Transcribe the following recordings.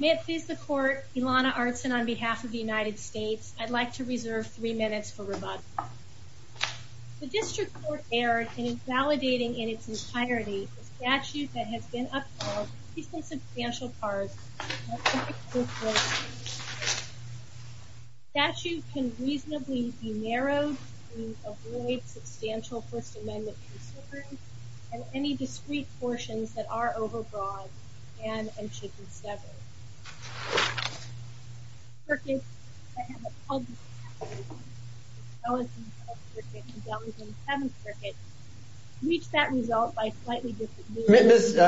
May it please the Court, Ilana Artson on behalf of the United States, I'd like to reserve three minutes for rebuttal. The District Court erred in invalidating in its entirety the statute that has been upheld, at least in substantial parts, of the Pacific Coast Road Act. The statute can reasonably be narrowed to avoid substantial First Amendment concerns, and any discrete portions that are overbroad can and should be severed. I have a public comment on the Dellington 7th Circuit, which reached that result by slightly different means.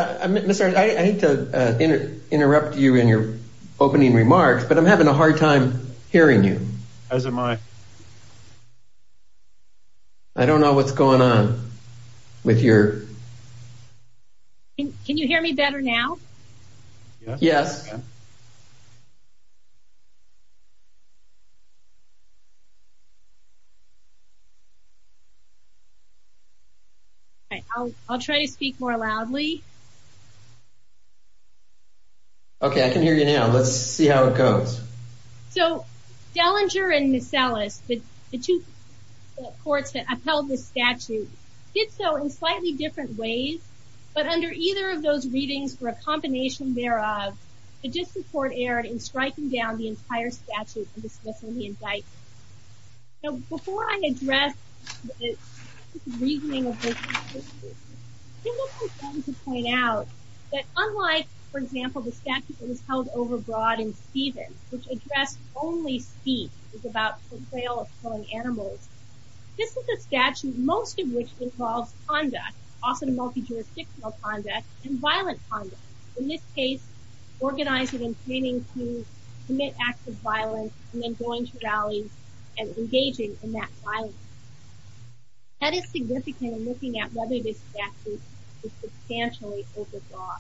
I hate to interrupt you in your opening remarks, but I'm having a hard time hearing you. As am I. I don't know what's going on with your... Can you hear me better now? Yes. I'll try to speak more loudly. Okay, I can hear you now. Let's see how it goes. So, Dellinger and Masellus, the two courts that upheld this statute, did so in slightly different ways, but under either of those readings were a combination thereof. The District Court erred in striking down the entire statute and dismissing the indictment. Now, before I address the reasoning of this statute, I think it's important to point out that unlike, for example, the statute that was held overbroad in Stevens, which addressed only speech, about the betrayal of foreign animals, this is a statute, most of which involves conduct, also multi-jurisdictional conduct, and violent conduct. In this case, organizing and planning to commit acts of violence and then going to rallies and engaging in that violence. That is significant in looking at whether this statute is substantially overbroad.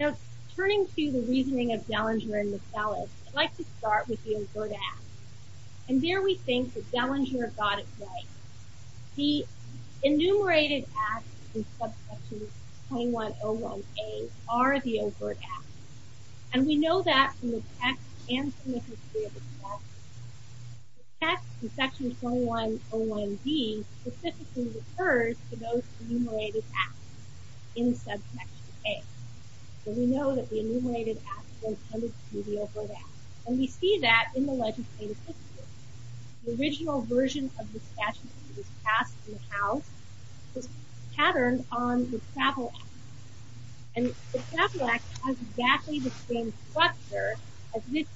Now, turning to the reasoning of Dellinger and Masellus, I'd like to start with the inverted act. And here we think that Dellinger got it right. The enumerated acts in subsection 2101A are the overt acts. And we know that from the text and from the history of the statute. The text in section 2101B specifically refers to those enumerated acts in subsection A. So we know that the enumerated acts were intended to be overt acts. And we see that in the legislative history. The original version of the statute that was passed in the House was patterned on the Staple Act. And the Staple Act has exactly the same structure as this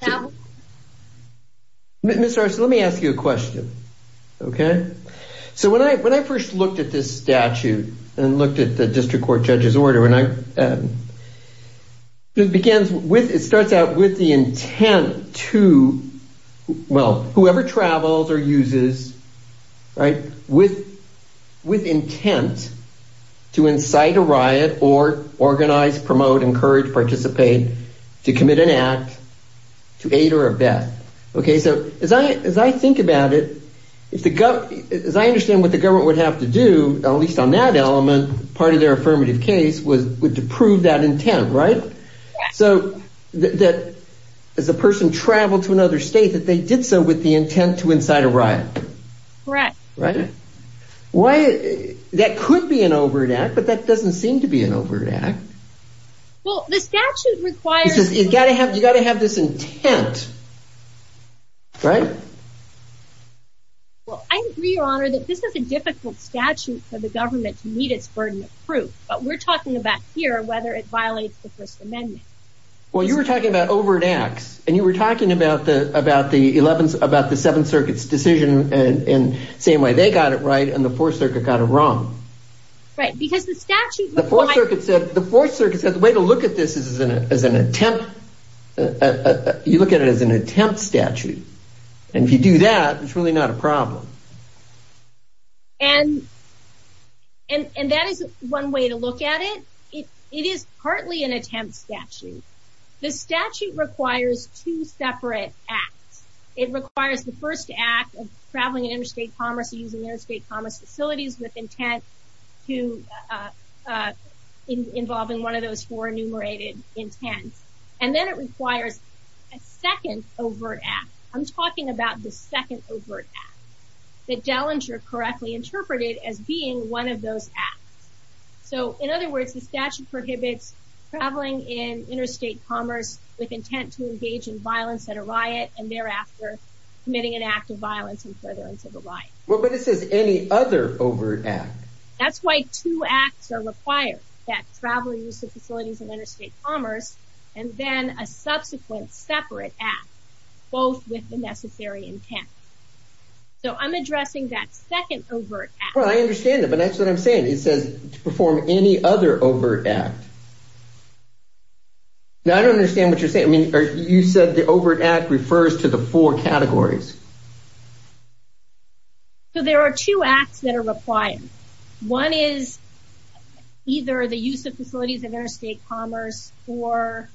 statute. Now... Ms. Arce, let me ask you a question. Okay? So when I first looked at this statute, and looked at the district court judge's order, and I... It begins with, it starts out with the intent to, well, whoever travels or uses, right, with intent to incite a riot or organize, promote, encourage, participate, to commit an act, to aid or abet. Okay, so as I think about it, as I understand what the government would have to do, at least on that element, part of their affirmative case was to prove that intent, right? So that as a person traveled to another state, that they did so with the intent to incite a riot. Correct. Right? Why... That could be an overt act, but that doesn't seem to be an overt act. Well, the statute requires... Because you've got to have this intent. Right? Well, I agree, Your Honor, that this is a difficult statute for the government to meet its burden of proof. But we're talking about here whether it violates the First Amendment. Well, you were talking about overt acts, and you were talking about the Seventh Circuit's decision, and saying why they got it right and the Fourth Circuit got it wrong. Right, because the statute requires... The Fourth Circuit said the way to look at this is as an attempt, you look at it as an attempt statute. And if you do that, it's really not a problem. And... And that is one way to look at it. It is partly an attempt statute. The statute requires two separate acts. It requires the first act of traveling in interstate commerce, using interstate commerce facilities with intent to involve in one of those four enumerated intents. And then it requires a second overt act. I'm talking about the second overt act. That Dellinger correctly interpreted as being one of those acts. So, in other words, the statute prohibits traveling in interstate commerce with intent to engage in violence at a riot, and thereafter committing an act of violence in furtherance of the riot. Well, but it says any other overt act. That's why two acts are required. That travel use of facilities in interstate commerce, and then a subsequent separate act. Both with the necessary intent. So, I'm addressing that second overt act. Well, I understand that, but that's what I'm saying. It says to perform any other overt act. Now, I don't understand what you're saying. I mean, you said the overt act refers to the four categories. So, there are two acts that are required. One is either the use of facilities in interstate commerce or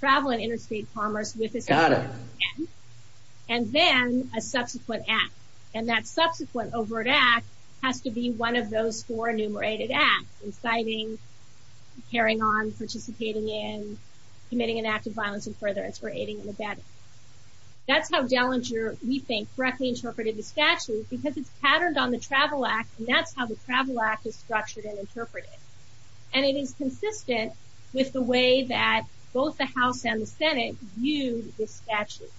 travel in interstate commerce with a separate intent. Got it. And then, a subsequent act. And that subsequent overt act has to be one of those four enumerated acts. Inciting, carrying on, participating in, committing an act of violence in furtherance, or aiding and abetting. That's how Dellinger, we think, correctly interpreted the statute because it's patterned on the Travel Act, and that's how the Travel Act is structured and interpreted. And it is consistent with the way that both the House and the Senate viewed the statute.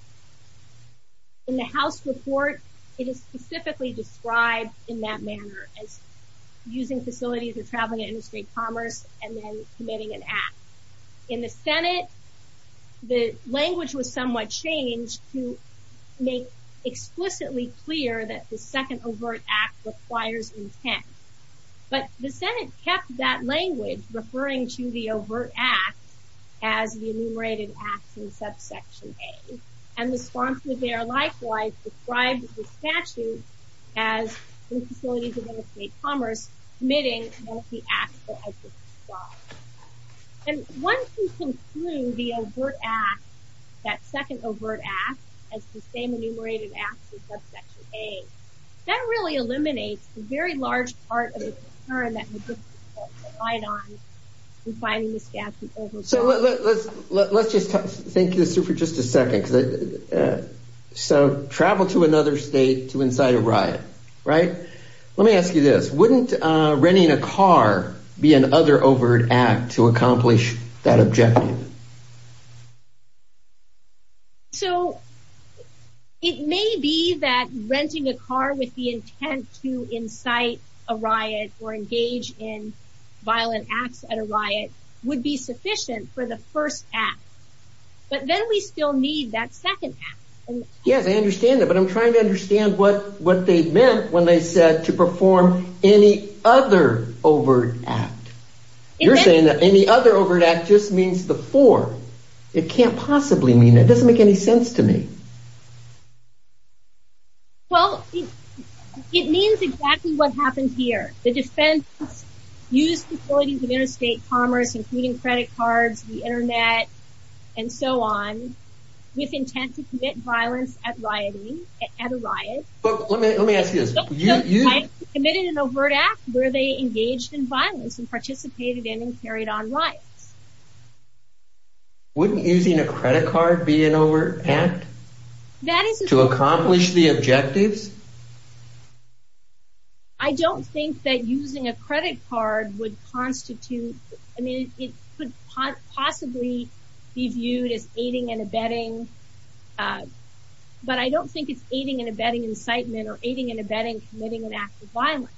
In the House report, it is specifically described in that manner, as using facilities or traveling in interstate commerce and then committing an act. In the Senate, the language was somewhat changed to make explicitly clear that the second overt act requires intent. But the Senate kept that language, referring to the overt act as the enumerated acts in subsection A. And the sponsor there, likewise, described the statute as the facilities of interstate commerce committing both the acts that I just described. And once you conclude the overt act, that second overt act, as the same enumerated acts in subsection A, that really eliminates a very large part of the concern that would be relied on in finding the statute. So let's just think this through for just a second. So travel to another state to incite a riot, right? Let me ask you this. Wouldn't renting a car be another overt act to accomplish that objective? So it may be that renting a car with the intent to incite a riot or engage in violent acts at a riot would be sufficient for the first act. But then we still need that second act. Yes, I understand that. But I'm trying to understand what they meant when they said to perform any other overt act. You're saying that any other overt act just means the fourth. It can't possibly mean that. It doesn't make any sense to me. Well, it means exactly what happened here. The defense used facilities of interstate commerce, including credit cards, the internet, and so on, with intent to commit violence at a riot. Let me ask you this. Committed an overt act where they engaged in violence and participated in and carried on riots. Wouldn't using a credit card be an overt act to accomplish the objectives? I don't think that using a credit card would constitute, I mean, it could possibly be viewed as aiding and abetting. But I don't think it's aiding and abetting incitement or aiding and abetting committing an act of violence.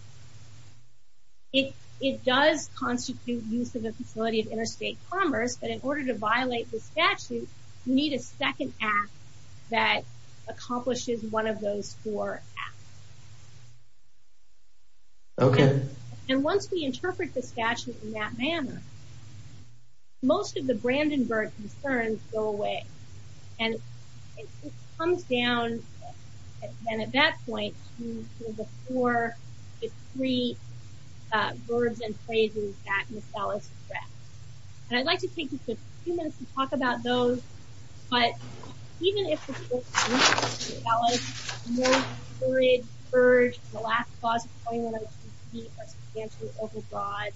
It does constitute use of a facility of interstate commerce, but in order to violate the statute, you need a second act that accomplishes one of those four acts. Okay. And once we interpret the statute in that manner, most of the Brandenburg concerns go away. And it comes down, then at that point, to the four, the three verbs and phrases that Ms. Ellis stressed. And I'd like to take just a few minutes to talk about those. But even if the Supreme Court's ruling that Ms. Ellis' most furious purge of the last clause of 2102c are substantially overbroad,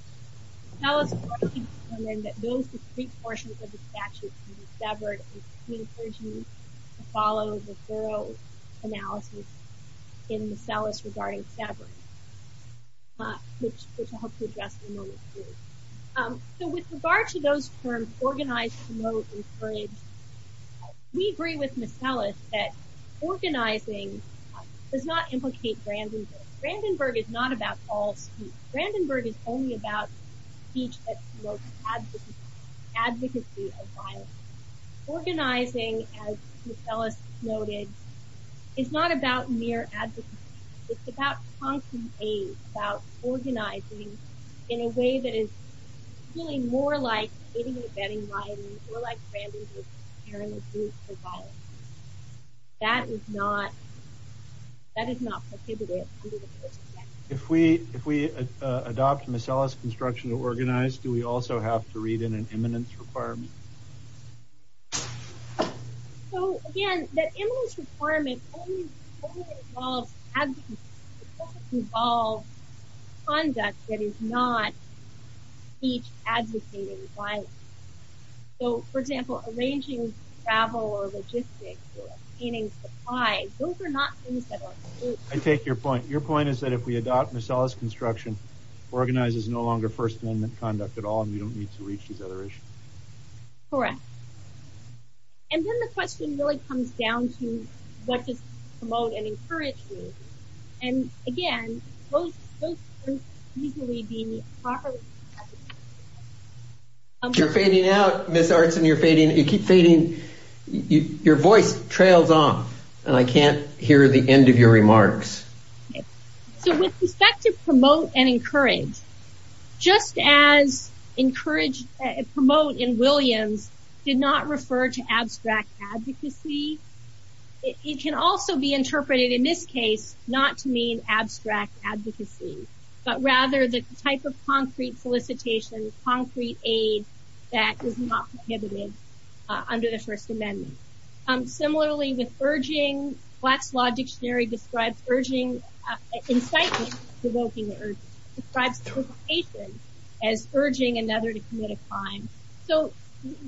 Ms. Ellis is already determined that those discrete portions of the statute can be severed, and she encourages you to follow the thorough analysis in Ms. Ellis regarding severing, which I'll hope to address in a moment, too. So with regard to those terms, organize, promote, encourage, we agree with Ms. Ellis that organizing does not implicate Brandenburg. Brandenburg is not about all speech. Brandenburg is only about speech that promotes advocacy of violence. Organizing, as Ms. Ellis noted, is not about mere advocacy. It's about constant aid, about organizing in a way that is really more like aiding and abetting violence, more like Brandenburg preparing a booth for violence. That is not prohibited under the First Amendment. If we adopt Ms. Ellis' construction to organize, do we also have to read in an eminence requirement? So, again, that eminence requirement only involves conduct that is not speech advocating violence. So, for example, arranging travel or logistics or obtaining supplies, those are not things that are prohibited. I take your point. Your point is that if we adopt Ms. Ellis' construction, organizing is no longer First Amendment conduct at all and we don't need to reach these other issues. Correct. And then the question really comes down to what does promote and encourage mean? And, again, those terms easily be improperly interpreted. You're fading out, Ms. Artson. You're fading. You keep fading. Your voice trails off and I can't hear the end of your remarks. So, with respect to promote and encourage, just as encourage and promote in Williams did not refer to abstract advocacy, it can also be interpreted in this case not to mean abstract advocacy, but rather the type of concrete solicitation, concrete aid that is not prohibited under the First Amendment. Similarly, with urging, Black's Law Dictionary describes urging, incitement to provoking an urge, describes interpretation as urging another to commit a crime. So,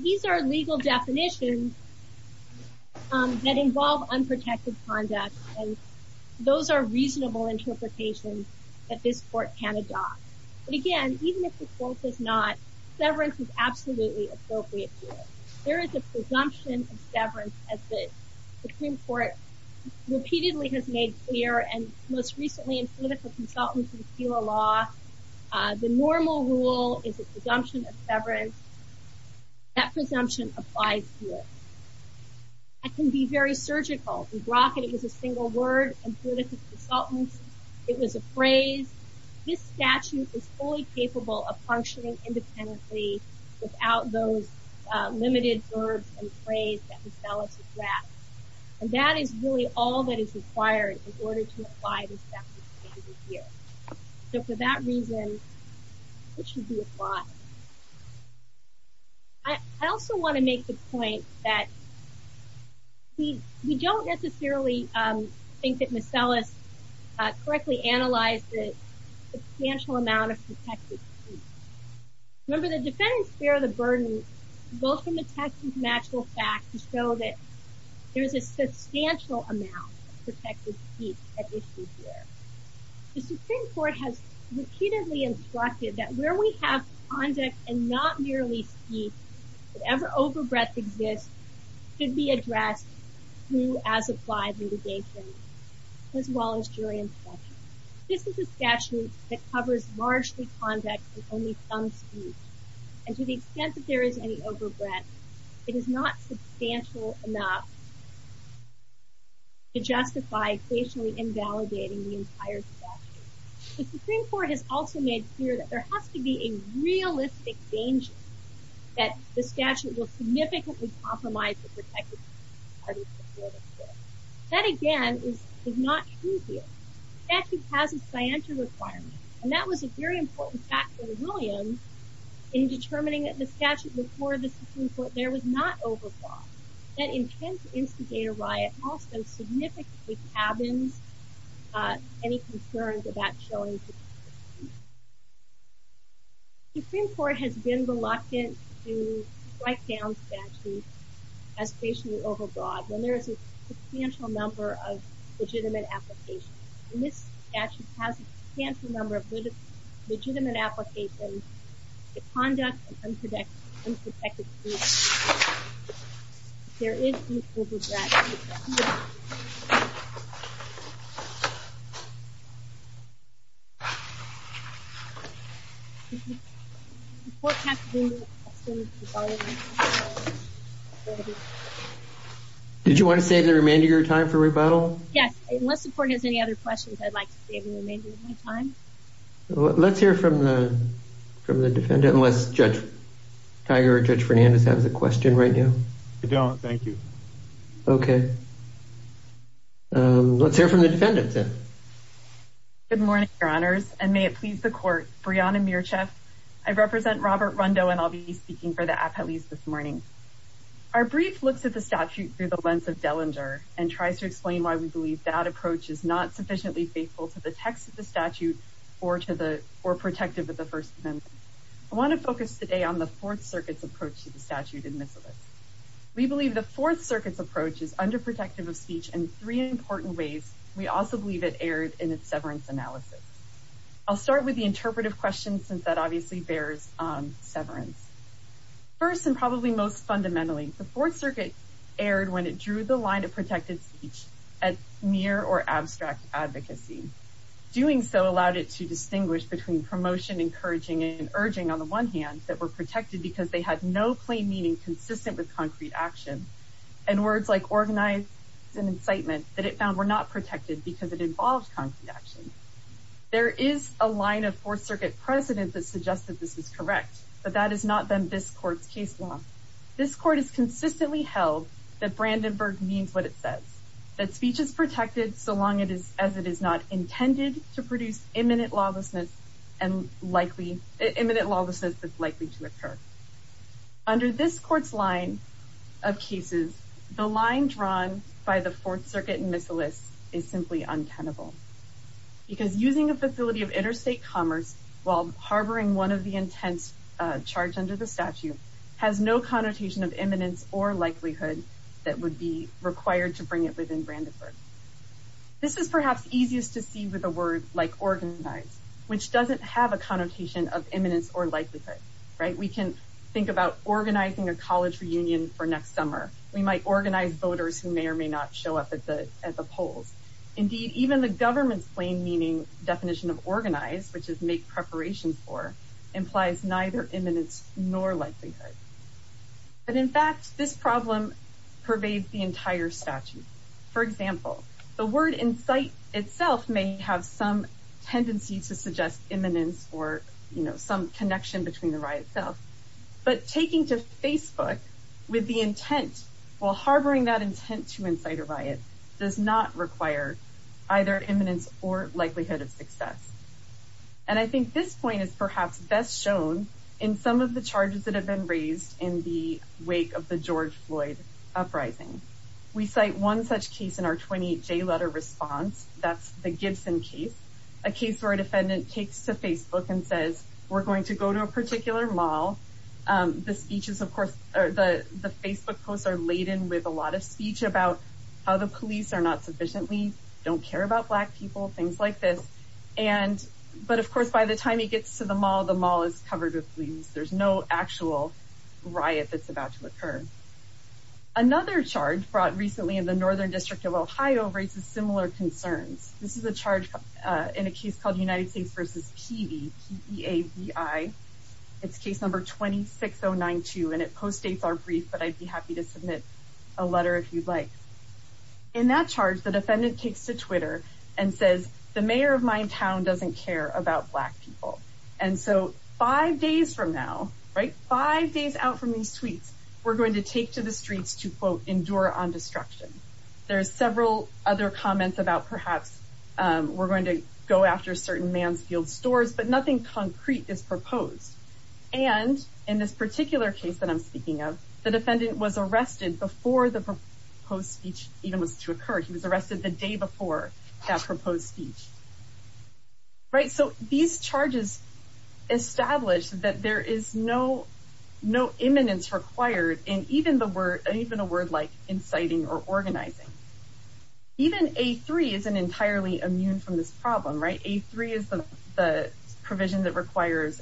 these are legal definitions that involve unprotected conduct and those are reasonable interpretations that this court can adopt. But, again, even if the court does not, severance is absolutely appropriate to it. There is a presumption of severance, as the Supreme Court repeatedly has made clear, and most recently in political consultancy with Fela Law, the normal rule is a presumption of severance. That presumption applies here. It can be very surgical. We brought that it was a single word in political consultancy. It was a phrase. This statute is fully capable of functioning independently without those limited verbs and phrase that Ms. Fela suggests. And that is really all that is required in order to apply this statute here. So, for that reason, it should be applied. I also want to make the point that we don't necessarily think that Ms. Sellis correctly analyzed the substantial amount of protected speech. Remember, the defendants bear the burden, both from the text and from actual facts, to show that there is a substantial amount of protected speech at issue here. The Supreme Court has repeatedly instructed that where we have conduct and not merely speech, whatever overbreadth exists should be addressed through as-applied litigation, as well as jury instruction. This is a statute that covers largely conduct with only some speech. And to the extent that there is any overbreadth, it is not substantial enough to justify equationally invalidating the entire statute. The Supreme Court has also made clear that there has to be a realistic danger that the statute will significantly compromise the protected speech. That, again, is not true here. The statute has a scientia requirement. And that was a very important fact for the Williams in determining that the statute before the Supreme Court there was not overbroad. That intense instigator riot also significantly cabins any concerns about showing protected speech. The Supreme Court has been reluctant to strike down statutes as patiently overbroad when there is a substantial number of legitimate applications. This statute has a substantial number of legitimate applications to conduct unprotected speech. If there is any overbreadth, it should be addressed. The Supreme Court has been reluctant to follow this statute. Did you want to save the remainder of your time for rebuttal? Yes. Unless the court has any other questions, I'd like to save the remainder of my time. Let's hear from the defendant unless Judge Tiger or Judge Fernandez has a question right now. I don't. Thank you. Okay. Let's hear from the defendant then. Good morning, Your Honors, and may it please the court. Brianna Mircheff. I represent Robert Rundo, and I'll be speaking for the appellees this morning. Our brief looks at the statute through the lens of Dellinger and tries to explain why we believe that approach is not sufficiently faithful to the text of the statute or protective of the First Amendment. I want to focus today on the Fourth Circuit's approach to the statute in Miscellany. We believe the Fourth Circuit's approach is underprotective of speech in three important ways. We also believe it erred in its severance analysis. I'll start with the interpretive questions since that obviously bears severance. First, and probably most fundamentally, the Fourth Circuit erred when it drew the line of protected speech at mere or abstract advocacy. Doing so allowed it to distinguish between promotion, encouraging, and urging, on the one hand, that were protected because they had no plain meaning consistent with concrete action, and words like organized and incitement that it found were not protected because it involved concrete action. There is a line of Fourth Circuit precedent that suggests that this is correct, but that has not been this court's case law. This court has consistently held that Brandenburg means what it says, that speech is protected so long as it is not intended to produce imminent lawlessness that's likely to occur. Under this court's line of cases, the line drawn by the Fourth Circuit in Miscellany is simply untenable, because using a facility of interstate commerce while harboring one of the intents charged under the statute has no connotation of imminence or likelihood that would be required to bring it within Brandenburg. This is perhaps easiest to see with a word like organized, which doesn't have a connotation of imminence or likelihood. We can think about organizing a college reunion for next summer. We might organize voters who may or may not show up at the polls. Indeed, even the government's plain meaning definition of organized, which is make preparations for, implies neither imminence nor likelihood. But in fact, this problem pervades the entire statute. For example, the word incite itself may have some tendency to suggest imminence or some connection between the riot itself, but taking to Facebook with the intent while harboring that intent to incite a riot does not require either imminence or likelihood of success. And I think this point is perhaps best shown in some of the charges that have been raised in the wake of the George Floyd uprising. We cite one such case in our 28 J letter response. That's the Gibson case, a case where a defendant takes to Facebook and says, we're going to go to a particular mall. The speeches, of course, are the Facebook posts are laden with a lot of speech about how the police are not sufficiently don't care about black people, things like this. And but of course, by the time he gets to the mall, the mall is covered with leaves. There's no actual riot that's about to occur. Another charge brought recently in the northern district of Ohio raises similar concerns. This is a charge in a case called United States versus TV. I, it's case number twenty six. Oh, nine, two. And it postdates are brief, but I'd be happy to submit a letter if you'd like. In that charge, the defendant takes to Twitter and says, the mayor of my town doesn't care about black people. And so five days from now, right, five days out from these tweets, we're going to take to the streets to, quote, endure on destruction. There's several other comments about perhaps we're going to go after certain Mansfield stores, but nothing concrete is proposed. And in this particular case that I'm speaking of, the defendant was arrested before the post speech even was to occur. He was arrested the day before that proposed speech. Right. So these charges establish that there is no no imminence required in even the word, even a word like inciting or organizing. Even a three is an entirely immune from this problem, right? A three is the provision that requires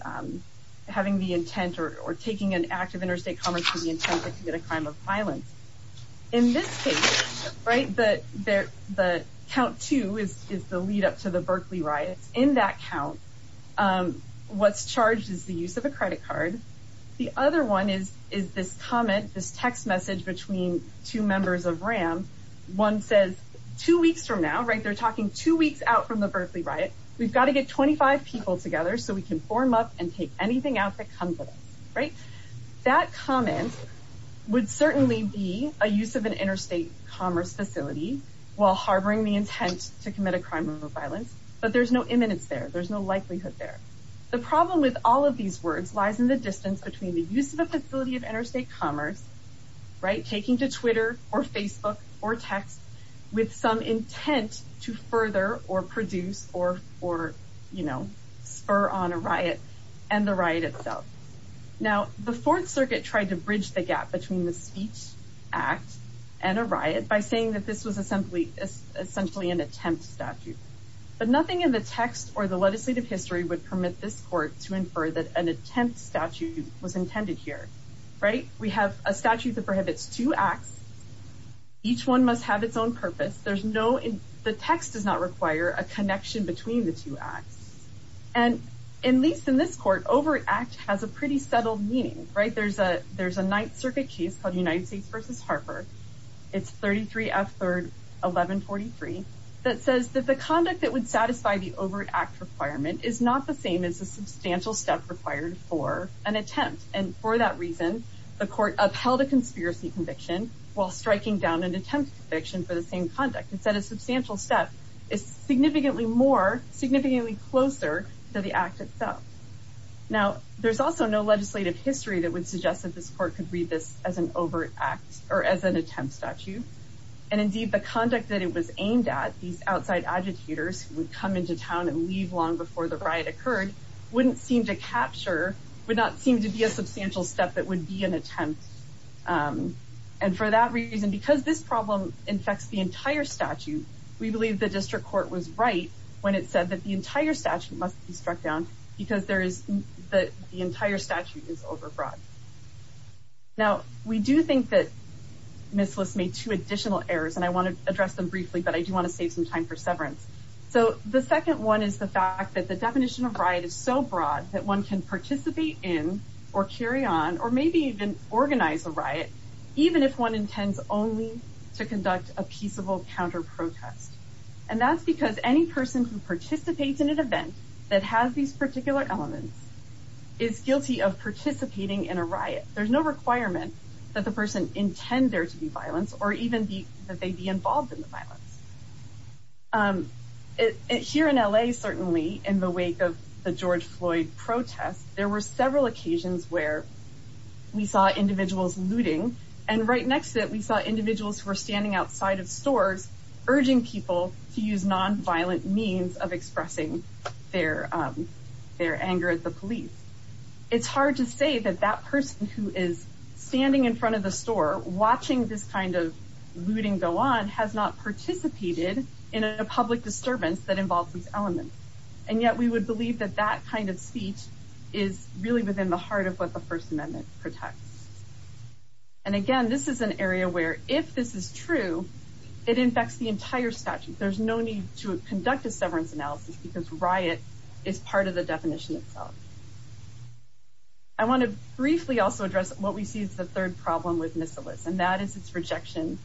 having the intent or taking an act of interstate commerce to the intent to commit a crime of violence. In this case, right, the count two is the lead up to the Berkeley riots. In that count, what's charged is the use of a credit card. The other one is, is this comment, this text message between two members of RAM. One says two weeks from now, right, they're talking two weeks out from the Berkeley riot. We've got to get 25 people together so we can form up and take anything out that comes with it. Right. That comment would certainly be a use of an interstate commerce facility while harboring the intent to commit a crime of violence. But there's no imminence there. There's no likelihood there. The problem with all of these words lies in the distance between the use of a facility of interstate commerce. Right. Taking to Twitter or Facebook or text with some intent to further or produce or or, you know, spur on a riot and the right itself. Now, the Fourth Circuit tried to bridge the gap between the speech act and a riot by saying that this was a simply essentially an attempt statute. But nothing in the text or the legislative history would permit this court to infer that an attempt statute was intended here. Right. We have a statute that prohibits two acts. Each one must have its own purpose. There's no the text does not require a connection between the two acts. And at least in this court over act has a pretty subtle meaning. Right. There's a there's a Ninth Circuit case called United States versus Harper. It's thirty three after eleven forty three. That says that the conduct that would satisfy the overt act requirement is not the same as a substantial step required for an attempt. And for that reason, the court upheld a conspiracy conviction while striking down an attempt conviction for the same conduct. It said a substantial step is significantly more significantly closer to the act itself. Now, there's also no legislative history that would suggest that this court could read this as an overt act or as an attempt statute. And indeed, the conduct that it was aimed at, these outside agitators would come into town and leave long before the riot occurred, wouldn't seem to capture, would not seem to be a substantial step that would be an attempt. And for that reason, because this problem infects the entire statute, we believe the district court was right when it said that the entire statute must be struck down because there is that the entire statute is overbroad. Now, we do think that this list made two additional errors and I want to address them briefly, but I do want to save some time for severance. So the second one is the fact that the definition of right is so broad that one can participate in or carry on or maybe even organize a riot, even if one intends only to conduct a peaceable counter protest. And that's because any person who participates in an event that has these particular elements is guilty of participating in a riot. There's no requirement that the person intend there to be violence or even that they be involved in the violence. Here in L.A., certainly in the wake of the George Floyd protest, there were several occasions where we saw individuals looting. And right next to it, we saw individuals who were standing outside of stores urging people to use nonviolent means of expressing their their anger at the police. It's hard to say that that person who is standing in front of the store watching this kind of looting go on has not participated in a public disturbance that involves these elements. And yet we would believe that that kind of speech is really within the heart of what the First Amendment protects. And again, this is an area where if this is true, it infects the entire statute. There's no need to conduct a severance analysis because riot is part of the definition itself. I want to briefly also address what we see is the third problem with missiles, and that is its rejection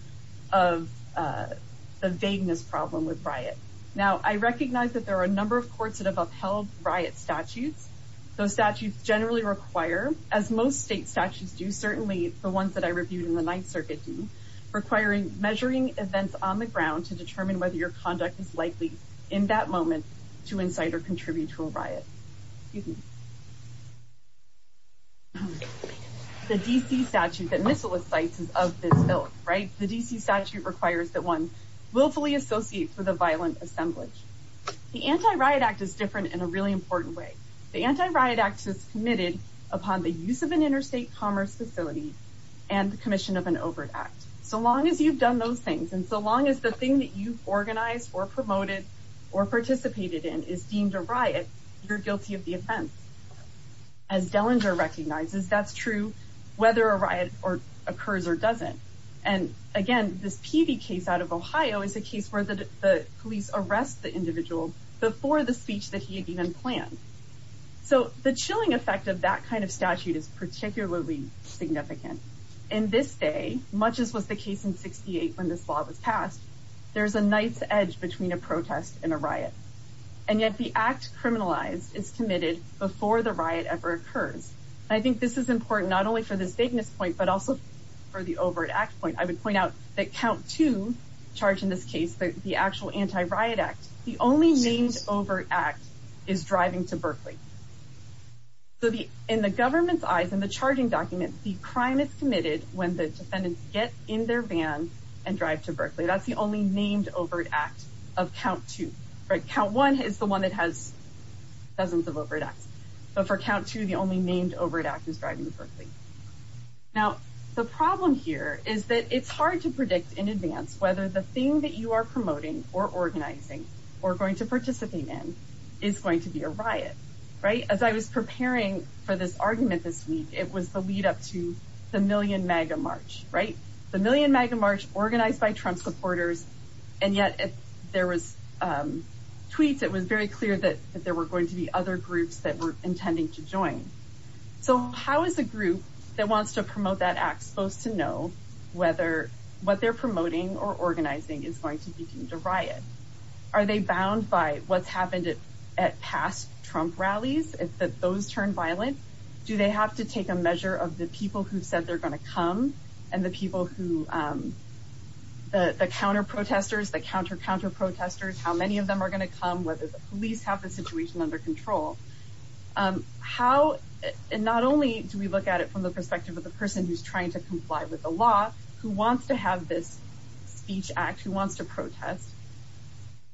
of the vagueness problem with riot. Now, I recognize that there are a number of courts that have upheld riot statutes. Those statutes generally require, as most state statutes do, certainly the ones that I reviewed in the Ninth Circuit, requiring measuring events on the ground to determine whether your conduct is likely in that moment to incite or contribute to a riot. The D.C. statute that missile sites is of this bill, right? The D.C. statute requires that one willfully associate with a violent assemblage. The Anti-Riot Act is different in a really important way. The Anti-Riot Act is committed upon the use of an interstate commerce facility and the commission of an overt act. So long as you've done those things and so long as the thing that you've organized or promoted or participated in is deemed a riot, you're guilty of the offense. As Dellinger recognizes, that's true whether a riot occurs or doesn't. And, again, this Peavey case out of Ohio is a case where the police arrest the individual before the speech that he had even planned. So the chilling effect of that kind of statute is particularly significant. In this day, much as was the case in 68 when this law was passed, there's a night's edge between a protest and a riot. And yet the act criminalized is committed before the riot ever occurs. I think this is important not only for this bigness point but also for the overt act point. I would point out that count two charged in this case, the actual Anti-Riot Act, the only named overt act is driving to Berkeley. In the government's eyes, in the charging documents, the crime is committed when the defendants get in their van and drive to Berkeley. That's the only named overt act of count two. Count one is the one that has dozens of overt acts. But for count two, the only named overt act is driving to Berkeley. Now, the problem here is that it's hard to predict in advance whether the thing that you are promoting or organizing or going to participate in is going to be a riot, right? As I was preparing for this argument this week, it was the lead up to the Million MAGA March, right? The Million MAGA March organized by Trump supporters. And yet if there was tweets, it was very clear that there were going to be other groups that were intending to join. So how is a group that wants to promote that act supposed to know whether what they're promoting or organizing is going to be deemed a riot? Are they bound by what's happened at past Trump rallies, if those turned violent? Do they have to take a measure of the people who said they're going to come and the people who, the counter protesters, the counter counter protesters, how many of them are going to come, whether the police have the situation under control? How, and not only do we look at it from the perspective of the person who's trying to comply with the law, who wants to have this speech act, who wants to protest?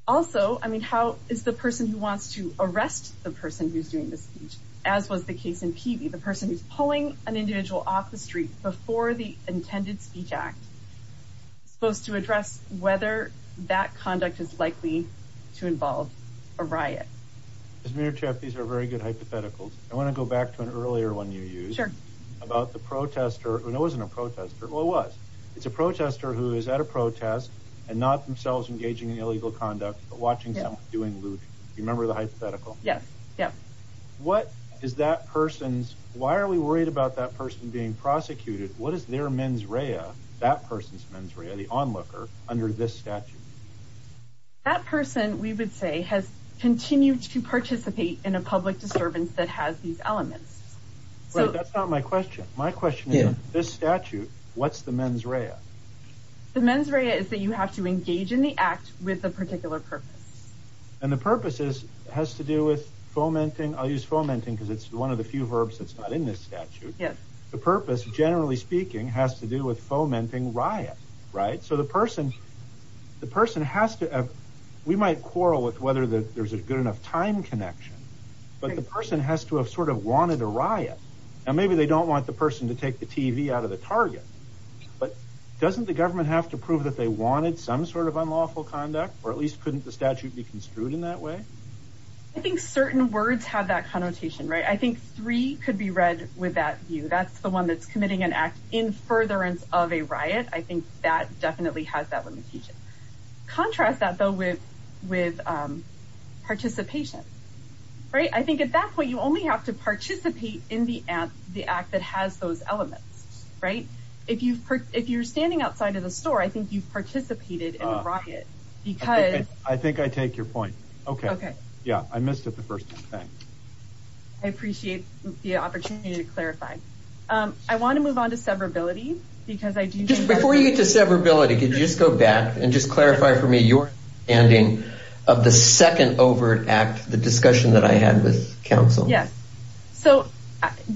Also, I mean, how is the person who wants to arrest the person who's doing the speech, as was the case in Peavey, the person who's pulling an individual off the street before the intended speech act, supposed to address whether that conduct is likely to involve a riot? These are very good hypotheticals. I want to go back to an earlier one you used about the protester. It wasn't a protester. Well, it was. It's a protester who is at a protest and not themselves engaging in illegal conduct, but watching someone doing loot. Remember the hypothetical? Yes. Yeah. What is that person's, why are we worried about that person being prosecuted? What is their mens rea, that person's mens rea, the onlooker under this statute? That person, we would say, has continued to participate in a public disturbance that has these elements. That's not my question. My question is, this statute, what's the mens rea? The mens rea is that you have to engage in the act with a particular purpose. And the purpose has to do with fomenting. I'll use fomenting because it's one of the few verbs that's not in this statute. Yes. The purpose, generally speaking, has to do with fomenting riot, right? So the person has to have, we might quarrel with whether there's a good enough time connection. But the person has to have sort of wanted a riot. And maybe they don't want the person to take the TV out of the target. But doesn't the government have to prove that they wanted some sort of unlawful conduct? Or at least couldn't the statute be construed in that way? I think certain words have that connotation, right? I think three could be read with that view. I think that definitely has that limitation. Contrast that, though, with participation. Right? I think at that point you only have to participate in the act that has those elements. Right? If you're standing outside of the store, I think you've participated in a riot. I think I take your point. Okay. I missed it the first time. Thanks. I appreciate the opportunity to clarify. Okay. I want to move on to severability. Just before you get to severability, could you just go back and just clarify for me your understanding of the second overt act, the discussion that I had with counsel? Yes. So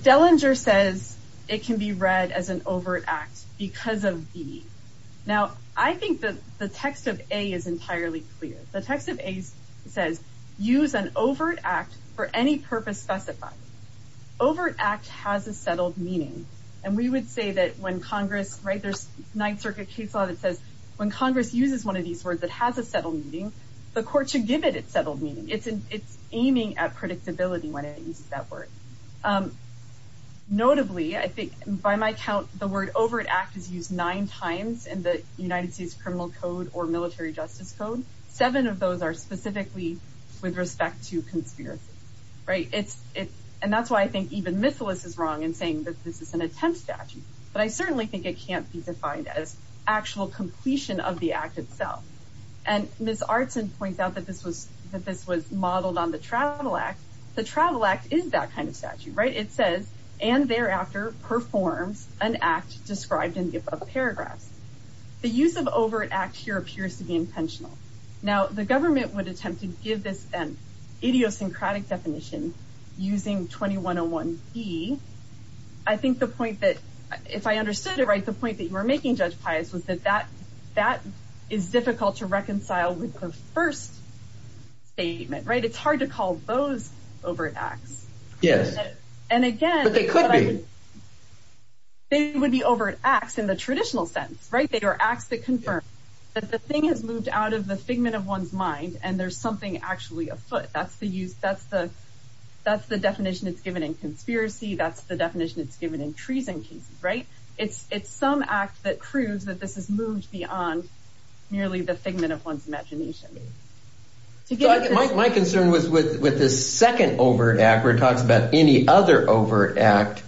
Dellinger says it can be read as an overt act because of B. Now, I think that the text of A is entirely clear. The text of A says use an overt act for any purpose specified. Overt act has a settled meaning. And we would say that when Congress, right, there's Ninth Circuit case law that says when Congress uses one of these words that has a settled meaning, the court should give it its settled meaning. It's aiming at predictability when it uses that word. Notably, I think by my count, the word overt act is used nine times in the United States Criminal Code or Military Justice Code. Seven of those are specifically with respect to conspiracies. Right? And that's why I think even Miscellus is wrong in saying that this is an attempt statute. But I certainly think it can't be defined as actual completion of the act itself. And Ms. Artson points out that this was modeled on the Travel Act. The Travel Act is that kind of statute, right? It says and thereafter performs an act described in the above paragraphs. The use of overt act here appears to be intentional. Now, the government would attempt to give this an idiosyncratic definition using 2101B. I think the point that if I understood it right, the point that you were making, Judge Pius, was that that that is difficult to reconcile with the first statement. Right. It's hard to call those overt acts. Yes. And again. They could be. They would be overt acts in the traditional sense. Right. They are acts that confirm that the thing has moved out of the figment of one's mind. And there's something actually afoot. That's the use. That's the that's the definition. It's given in conspiracy. That's the definition. It's given in treason cases. Right. It's it's some act that proves that this is moved beyond nearly the figment of one's imagination. My concern was with with this second overt act where it talks about any other overt act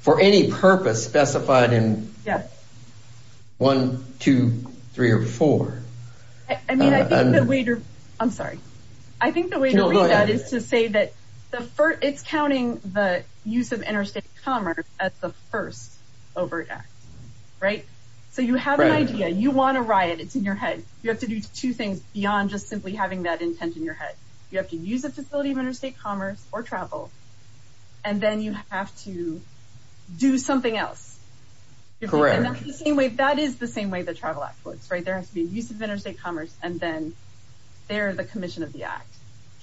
for any purpose specified in. Yes. One, two, three or four. I mean, I think the way to. I'm sorry. I think the way to read that is to say that it's counting the use of interstate commerce at the first overt act. Right. So you have an idea. You want a riot. It's in your head. You have to do two things beyond just simply having that intent in your head. You have to use a facility of interstate commerce or travel. And then you have to do something else. Correct. The same way. That is the same way the Travel Act works. Right. There has to be a use of interstate commerce. And then they're the commission of the act.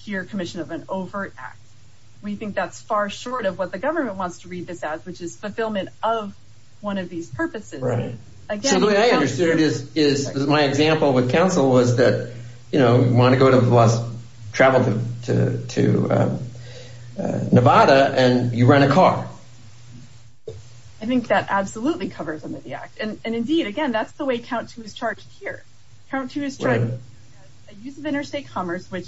You're a commission of an overt act. We think that's far short of what the government wants to read this as, which is fulfillment of one of these purposes. Right. So the way I understood it is my example with council was that, you know, you want to go to Nevada and you rent a car. I think that absolutely covers them in the act. And, indeed, again, that's the way COUNT2 is charged here. COUNT2 is charged. Right. A use of interstate commerce, which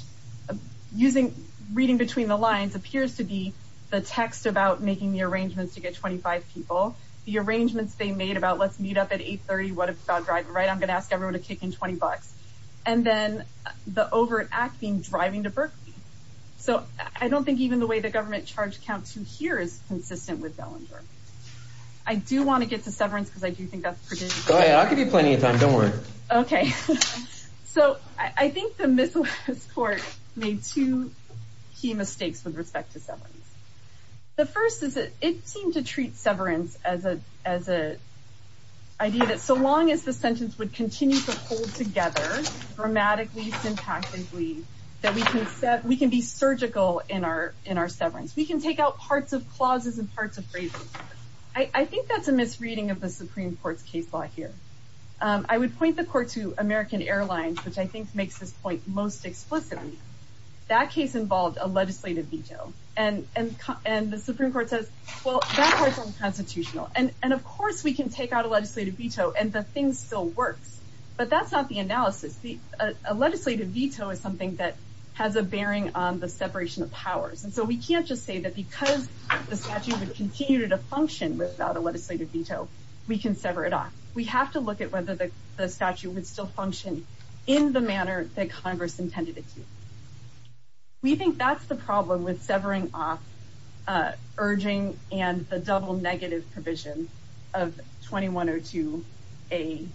reading between the lines appears to be the text about making the arrangements to get 25 people. The arrangements they made about let's meet up at 830. I'm going to ask everyone to kick in 20 bucks. And then the overt act being driving to Berkeley. So I don't think even the way the government charged COUNT2 here is consistent with Bellinger. I do want to get to severance because I do think that's pretty important. I'll give you plenty of time. Don't worry. Okay. So I think the Miscellaneous Court made two key mistakes with respect to severance. The first is that it seemed to treat severance as a idea that so long as the sentence would continue to hold together grammatically, syntactically, that we can be surgical in our severance. We can take out parts of clauses and parts of phrases. I think that's a misreading of the Supreme Court's case law here. I would point the court to American Airlines, which I think makes this point most explicitly. That case involved a legislative veto. And the Supreme Court says, well, that part's unconstitutional. And, of course, we can take out a legislative veto and the thing still works. But that's not the analysis. A legislative veto is something that has a bearing on the separation of powers. And so we can't just say that because the statute would continue to function without a legislative veto, we can sever it off. We have to look at whether the statute would still function in the manner that Congress intended it to. We think that's the problem with severing off urging and the double negative provision of 2102A,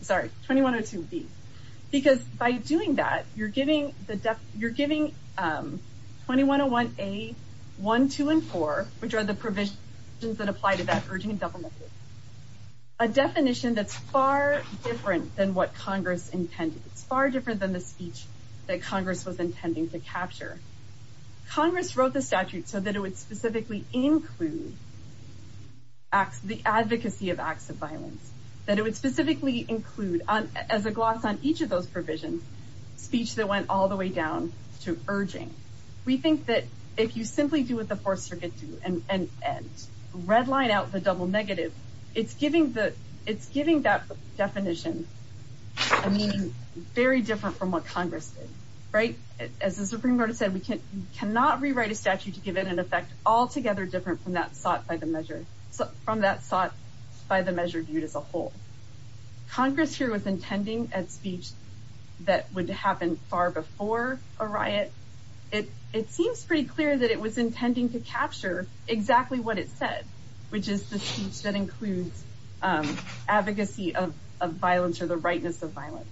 sorry, 2102B. Because by doing that, you're giving 2101A, 1, 2, and 4, which are the provisions that apply to that urging and double negative, a definition that's far different than what Congress intended. It's far different than the speech that Congress was intending to capture. Congress wrote the statute so that it would specifically include the advocacy of acts of violence, that it would specifically include, as a gloss on each of those provisions, speech that went all the way down to urging. We think that if you simply do what the Fourth Circuit did and redline out the double negative, it's giving that definition a meaning very different from what Congress did, right? As the Supreme Court has said, we cannot rewrite a statute to give it an effect altogether different from that sought by the measure, from that sought by the measure viewed as a whole. Congress here was intending a speech that would happen far before a riot. It seems pretty clear that it was intending to capture exactly what it said, which is the speech that includes advocacy of violence or the rightness of violence.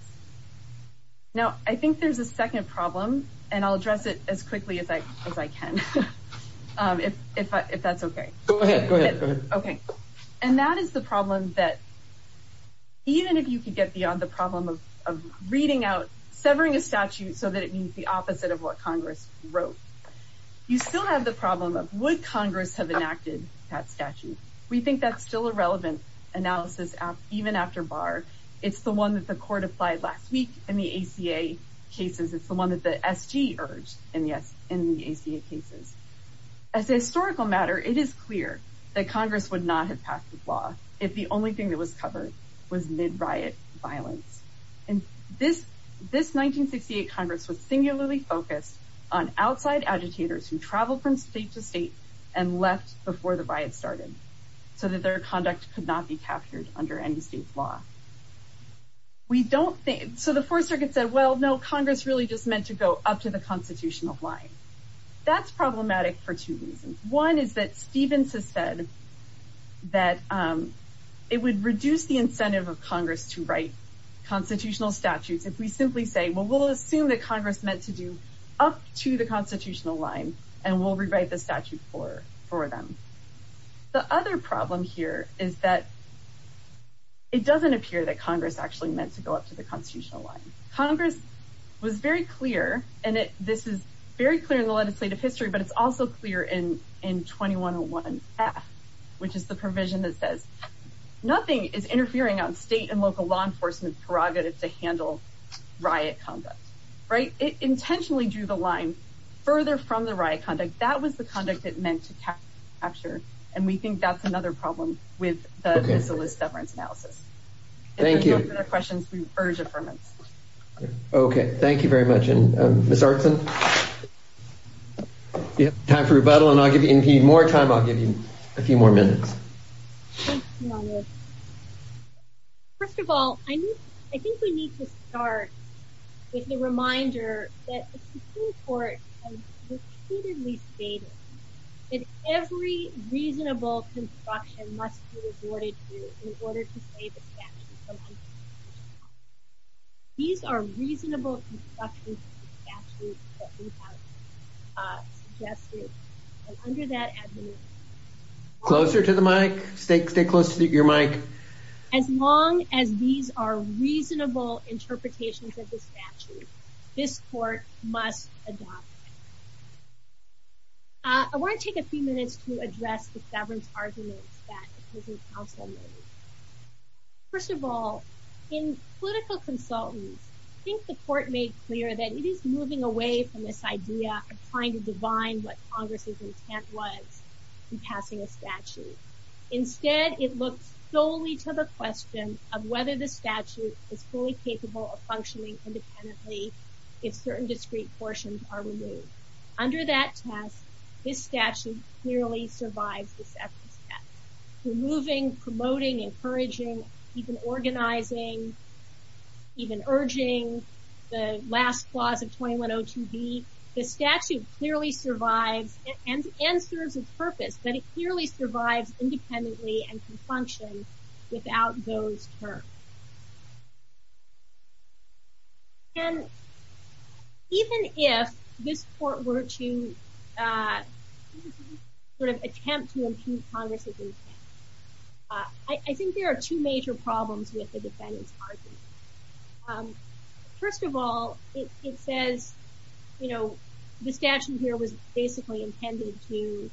Now, I think there's a second problem, and I'll address it as quickly as I can, if that's okay. Go ahead, go ahead. Okay. And that is the problem that even if you could get beyond the problem of reading out, severing a statute so that it means the opposite of what Congress wrote, you still have the problem of would Congress have enacted that statute? We think that's still a relevant analysis, even after Barr. It's the one that the court applied last week in the ACA cases. It's the one that the SG urged in the ACA cases. As a historical matter, it is clear that Congress would not have passed the law if the only thing that was covered was mid-riot violence. And this 1968 Congress was singularly focused on outside agitators who traveled from state to state and left before the riot started so that their conduct could not be captured under any state's law. So the Fourth Circuit said, well, no, Congress really just meant to go up to the constitutional line. That's problematic for two reasons. One is that Stevens has said that it would reduce the incentive of Congress to write constitutional statutes if we simply say, well, we'll assume that Congress meant to do up to the constitutional line and we'll rewrite the statute for them. The other problem here is that it doesn't appear that Congress actually meant to go up to the constitutional line. Congress was very clear, and this is very clear in the legislative history, but it's also clear in 2101F, which is the provision that says nothing is interfering on state and local law enforcement's prerogative to handle riot conduct. It intentionally drew the line further from the riot conduct. That was the conduct it meant to capture. And we think that's another problem with the Miscellaneous Deference Analysis. Thank you. If there are no further questions, we urge affirmance. Okay, thank you very much. And Ms. Artson, you have time for rebuttal, and if you need more time, I'll give you a few more minutes. First of all, I think we need to start with the reminder that the Supreme Court has repeatedly stated that every reasonable construction must be reported to in order to say the statute is unconstitutional. These are reasonable constructions of the statute that we have suggested. And under that admonition... Closer to the mic. Stay close to your mic. As long as these are reasonable interpretations of the statute, this court must adopt it. I want to take a few minutes to address the governance arguments that the prison counsel made. First of all, in political consultants, I think the court made clear that it is moving away from this idea of trying to divine what Congress's intent was in passing a statute. Instead, it looks solely to the question of whether the statute is fully capable of functioning independently if certain discrete portions are removed. Under that test, this statute clearly survives the second step. Removing, promoting, encouraging, even organizing, even urging, the last clause of 2102B, the statute clearly survives and serves its purpose that it clearly survives independently and can function without those terms. And even if this court were to sort of attempt to impugn Congress's intent, I think there are two major problems with the defendant's argument. First of all, it says, you know, the statute here was basically intended to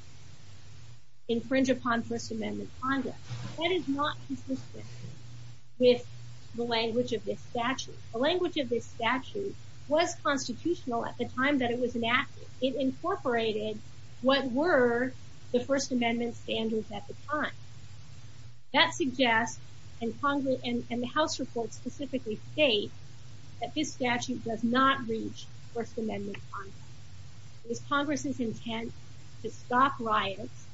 infringe upon First Amendment Congress. That is not consistent with the language of this statute. The language of this statute was constitutional at the time that it was enacted. It incorporated what were the First Amendment standards at the time. That suggests, and the House report specifically states, that this statute does not reach First Amendment Congress. It was Congress's intent to stop riots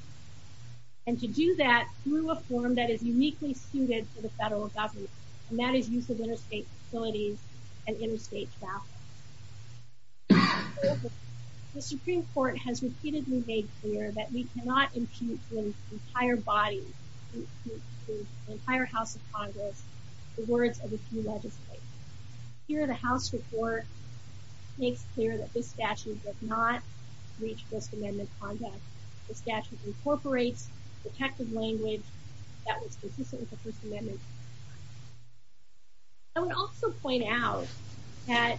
and to do that through a form that is uniquely suited to the federal government, and that is use of interstate facilities and interstate traffic. The Supreme Court has repeatedly made clear that we cannot impugn the entire body, the entire House of Congress, the words of a few legislators. Here, the House report makes clear that this statute does not reach First Amendment Congress. The statute incorporates protective language that was consistent with the First Amendment. I would also point out that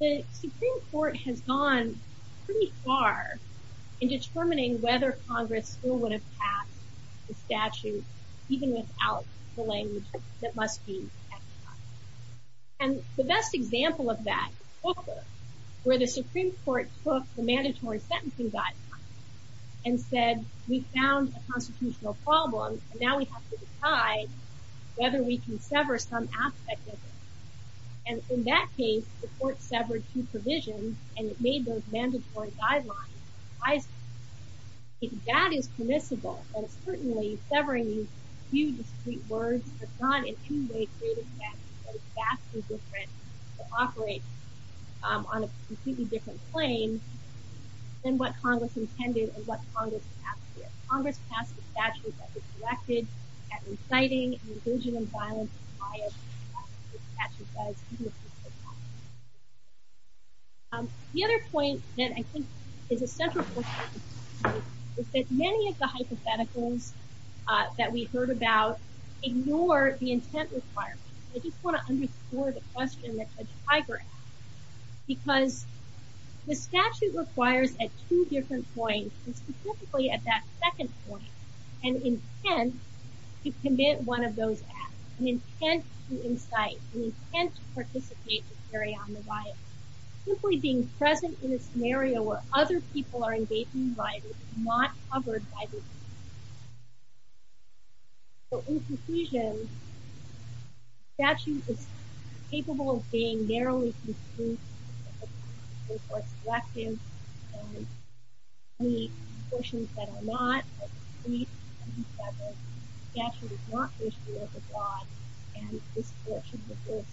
the Supreme Court has gone pretty far in determining whether Congress still would have passed the statute even without the language that must be exercised. And the best example of that is Volcker, where the Supreme Court took the mandatory sentencing guidelines and said, we found a constitutional problem, and now we have to decide whether we can sever some aspect of it. And in that case, the court severed two provisions, and it made those mandatory guidelines. If that is permissible, that is certainly severing these few discreet words, but not in two ways greater than or vastly different to operate on a completely different plane than what Congress intended and what Congress passed here. The other point that I think is a central point is that many of the hypotheticals that we've heard about ignore the intent requirement. I just want to underscore the question that Judge Tiger asked, because the statute requires at two different points, and specifically at that second point, an intent to commit one of those acts, an intent to incite, an intent to participate, to carry on the riot. Simply being present in a scenario where other people are engaged in a riot is not covered by the statute. So, in conclusion, the statute is capable of being narrowly conclusive, or selective, and the portions that are not are discreet, and the statute does not wish to be overbought, and this court should refuse.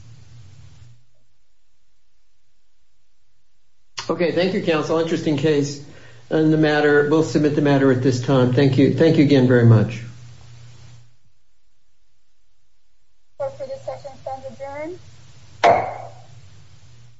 Okay. Thank you, counsel. Interesting case. We'll submit the matter at this time. Thank you. Thank you again very much. Court, for this session, is adjourned.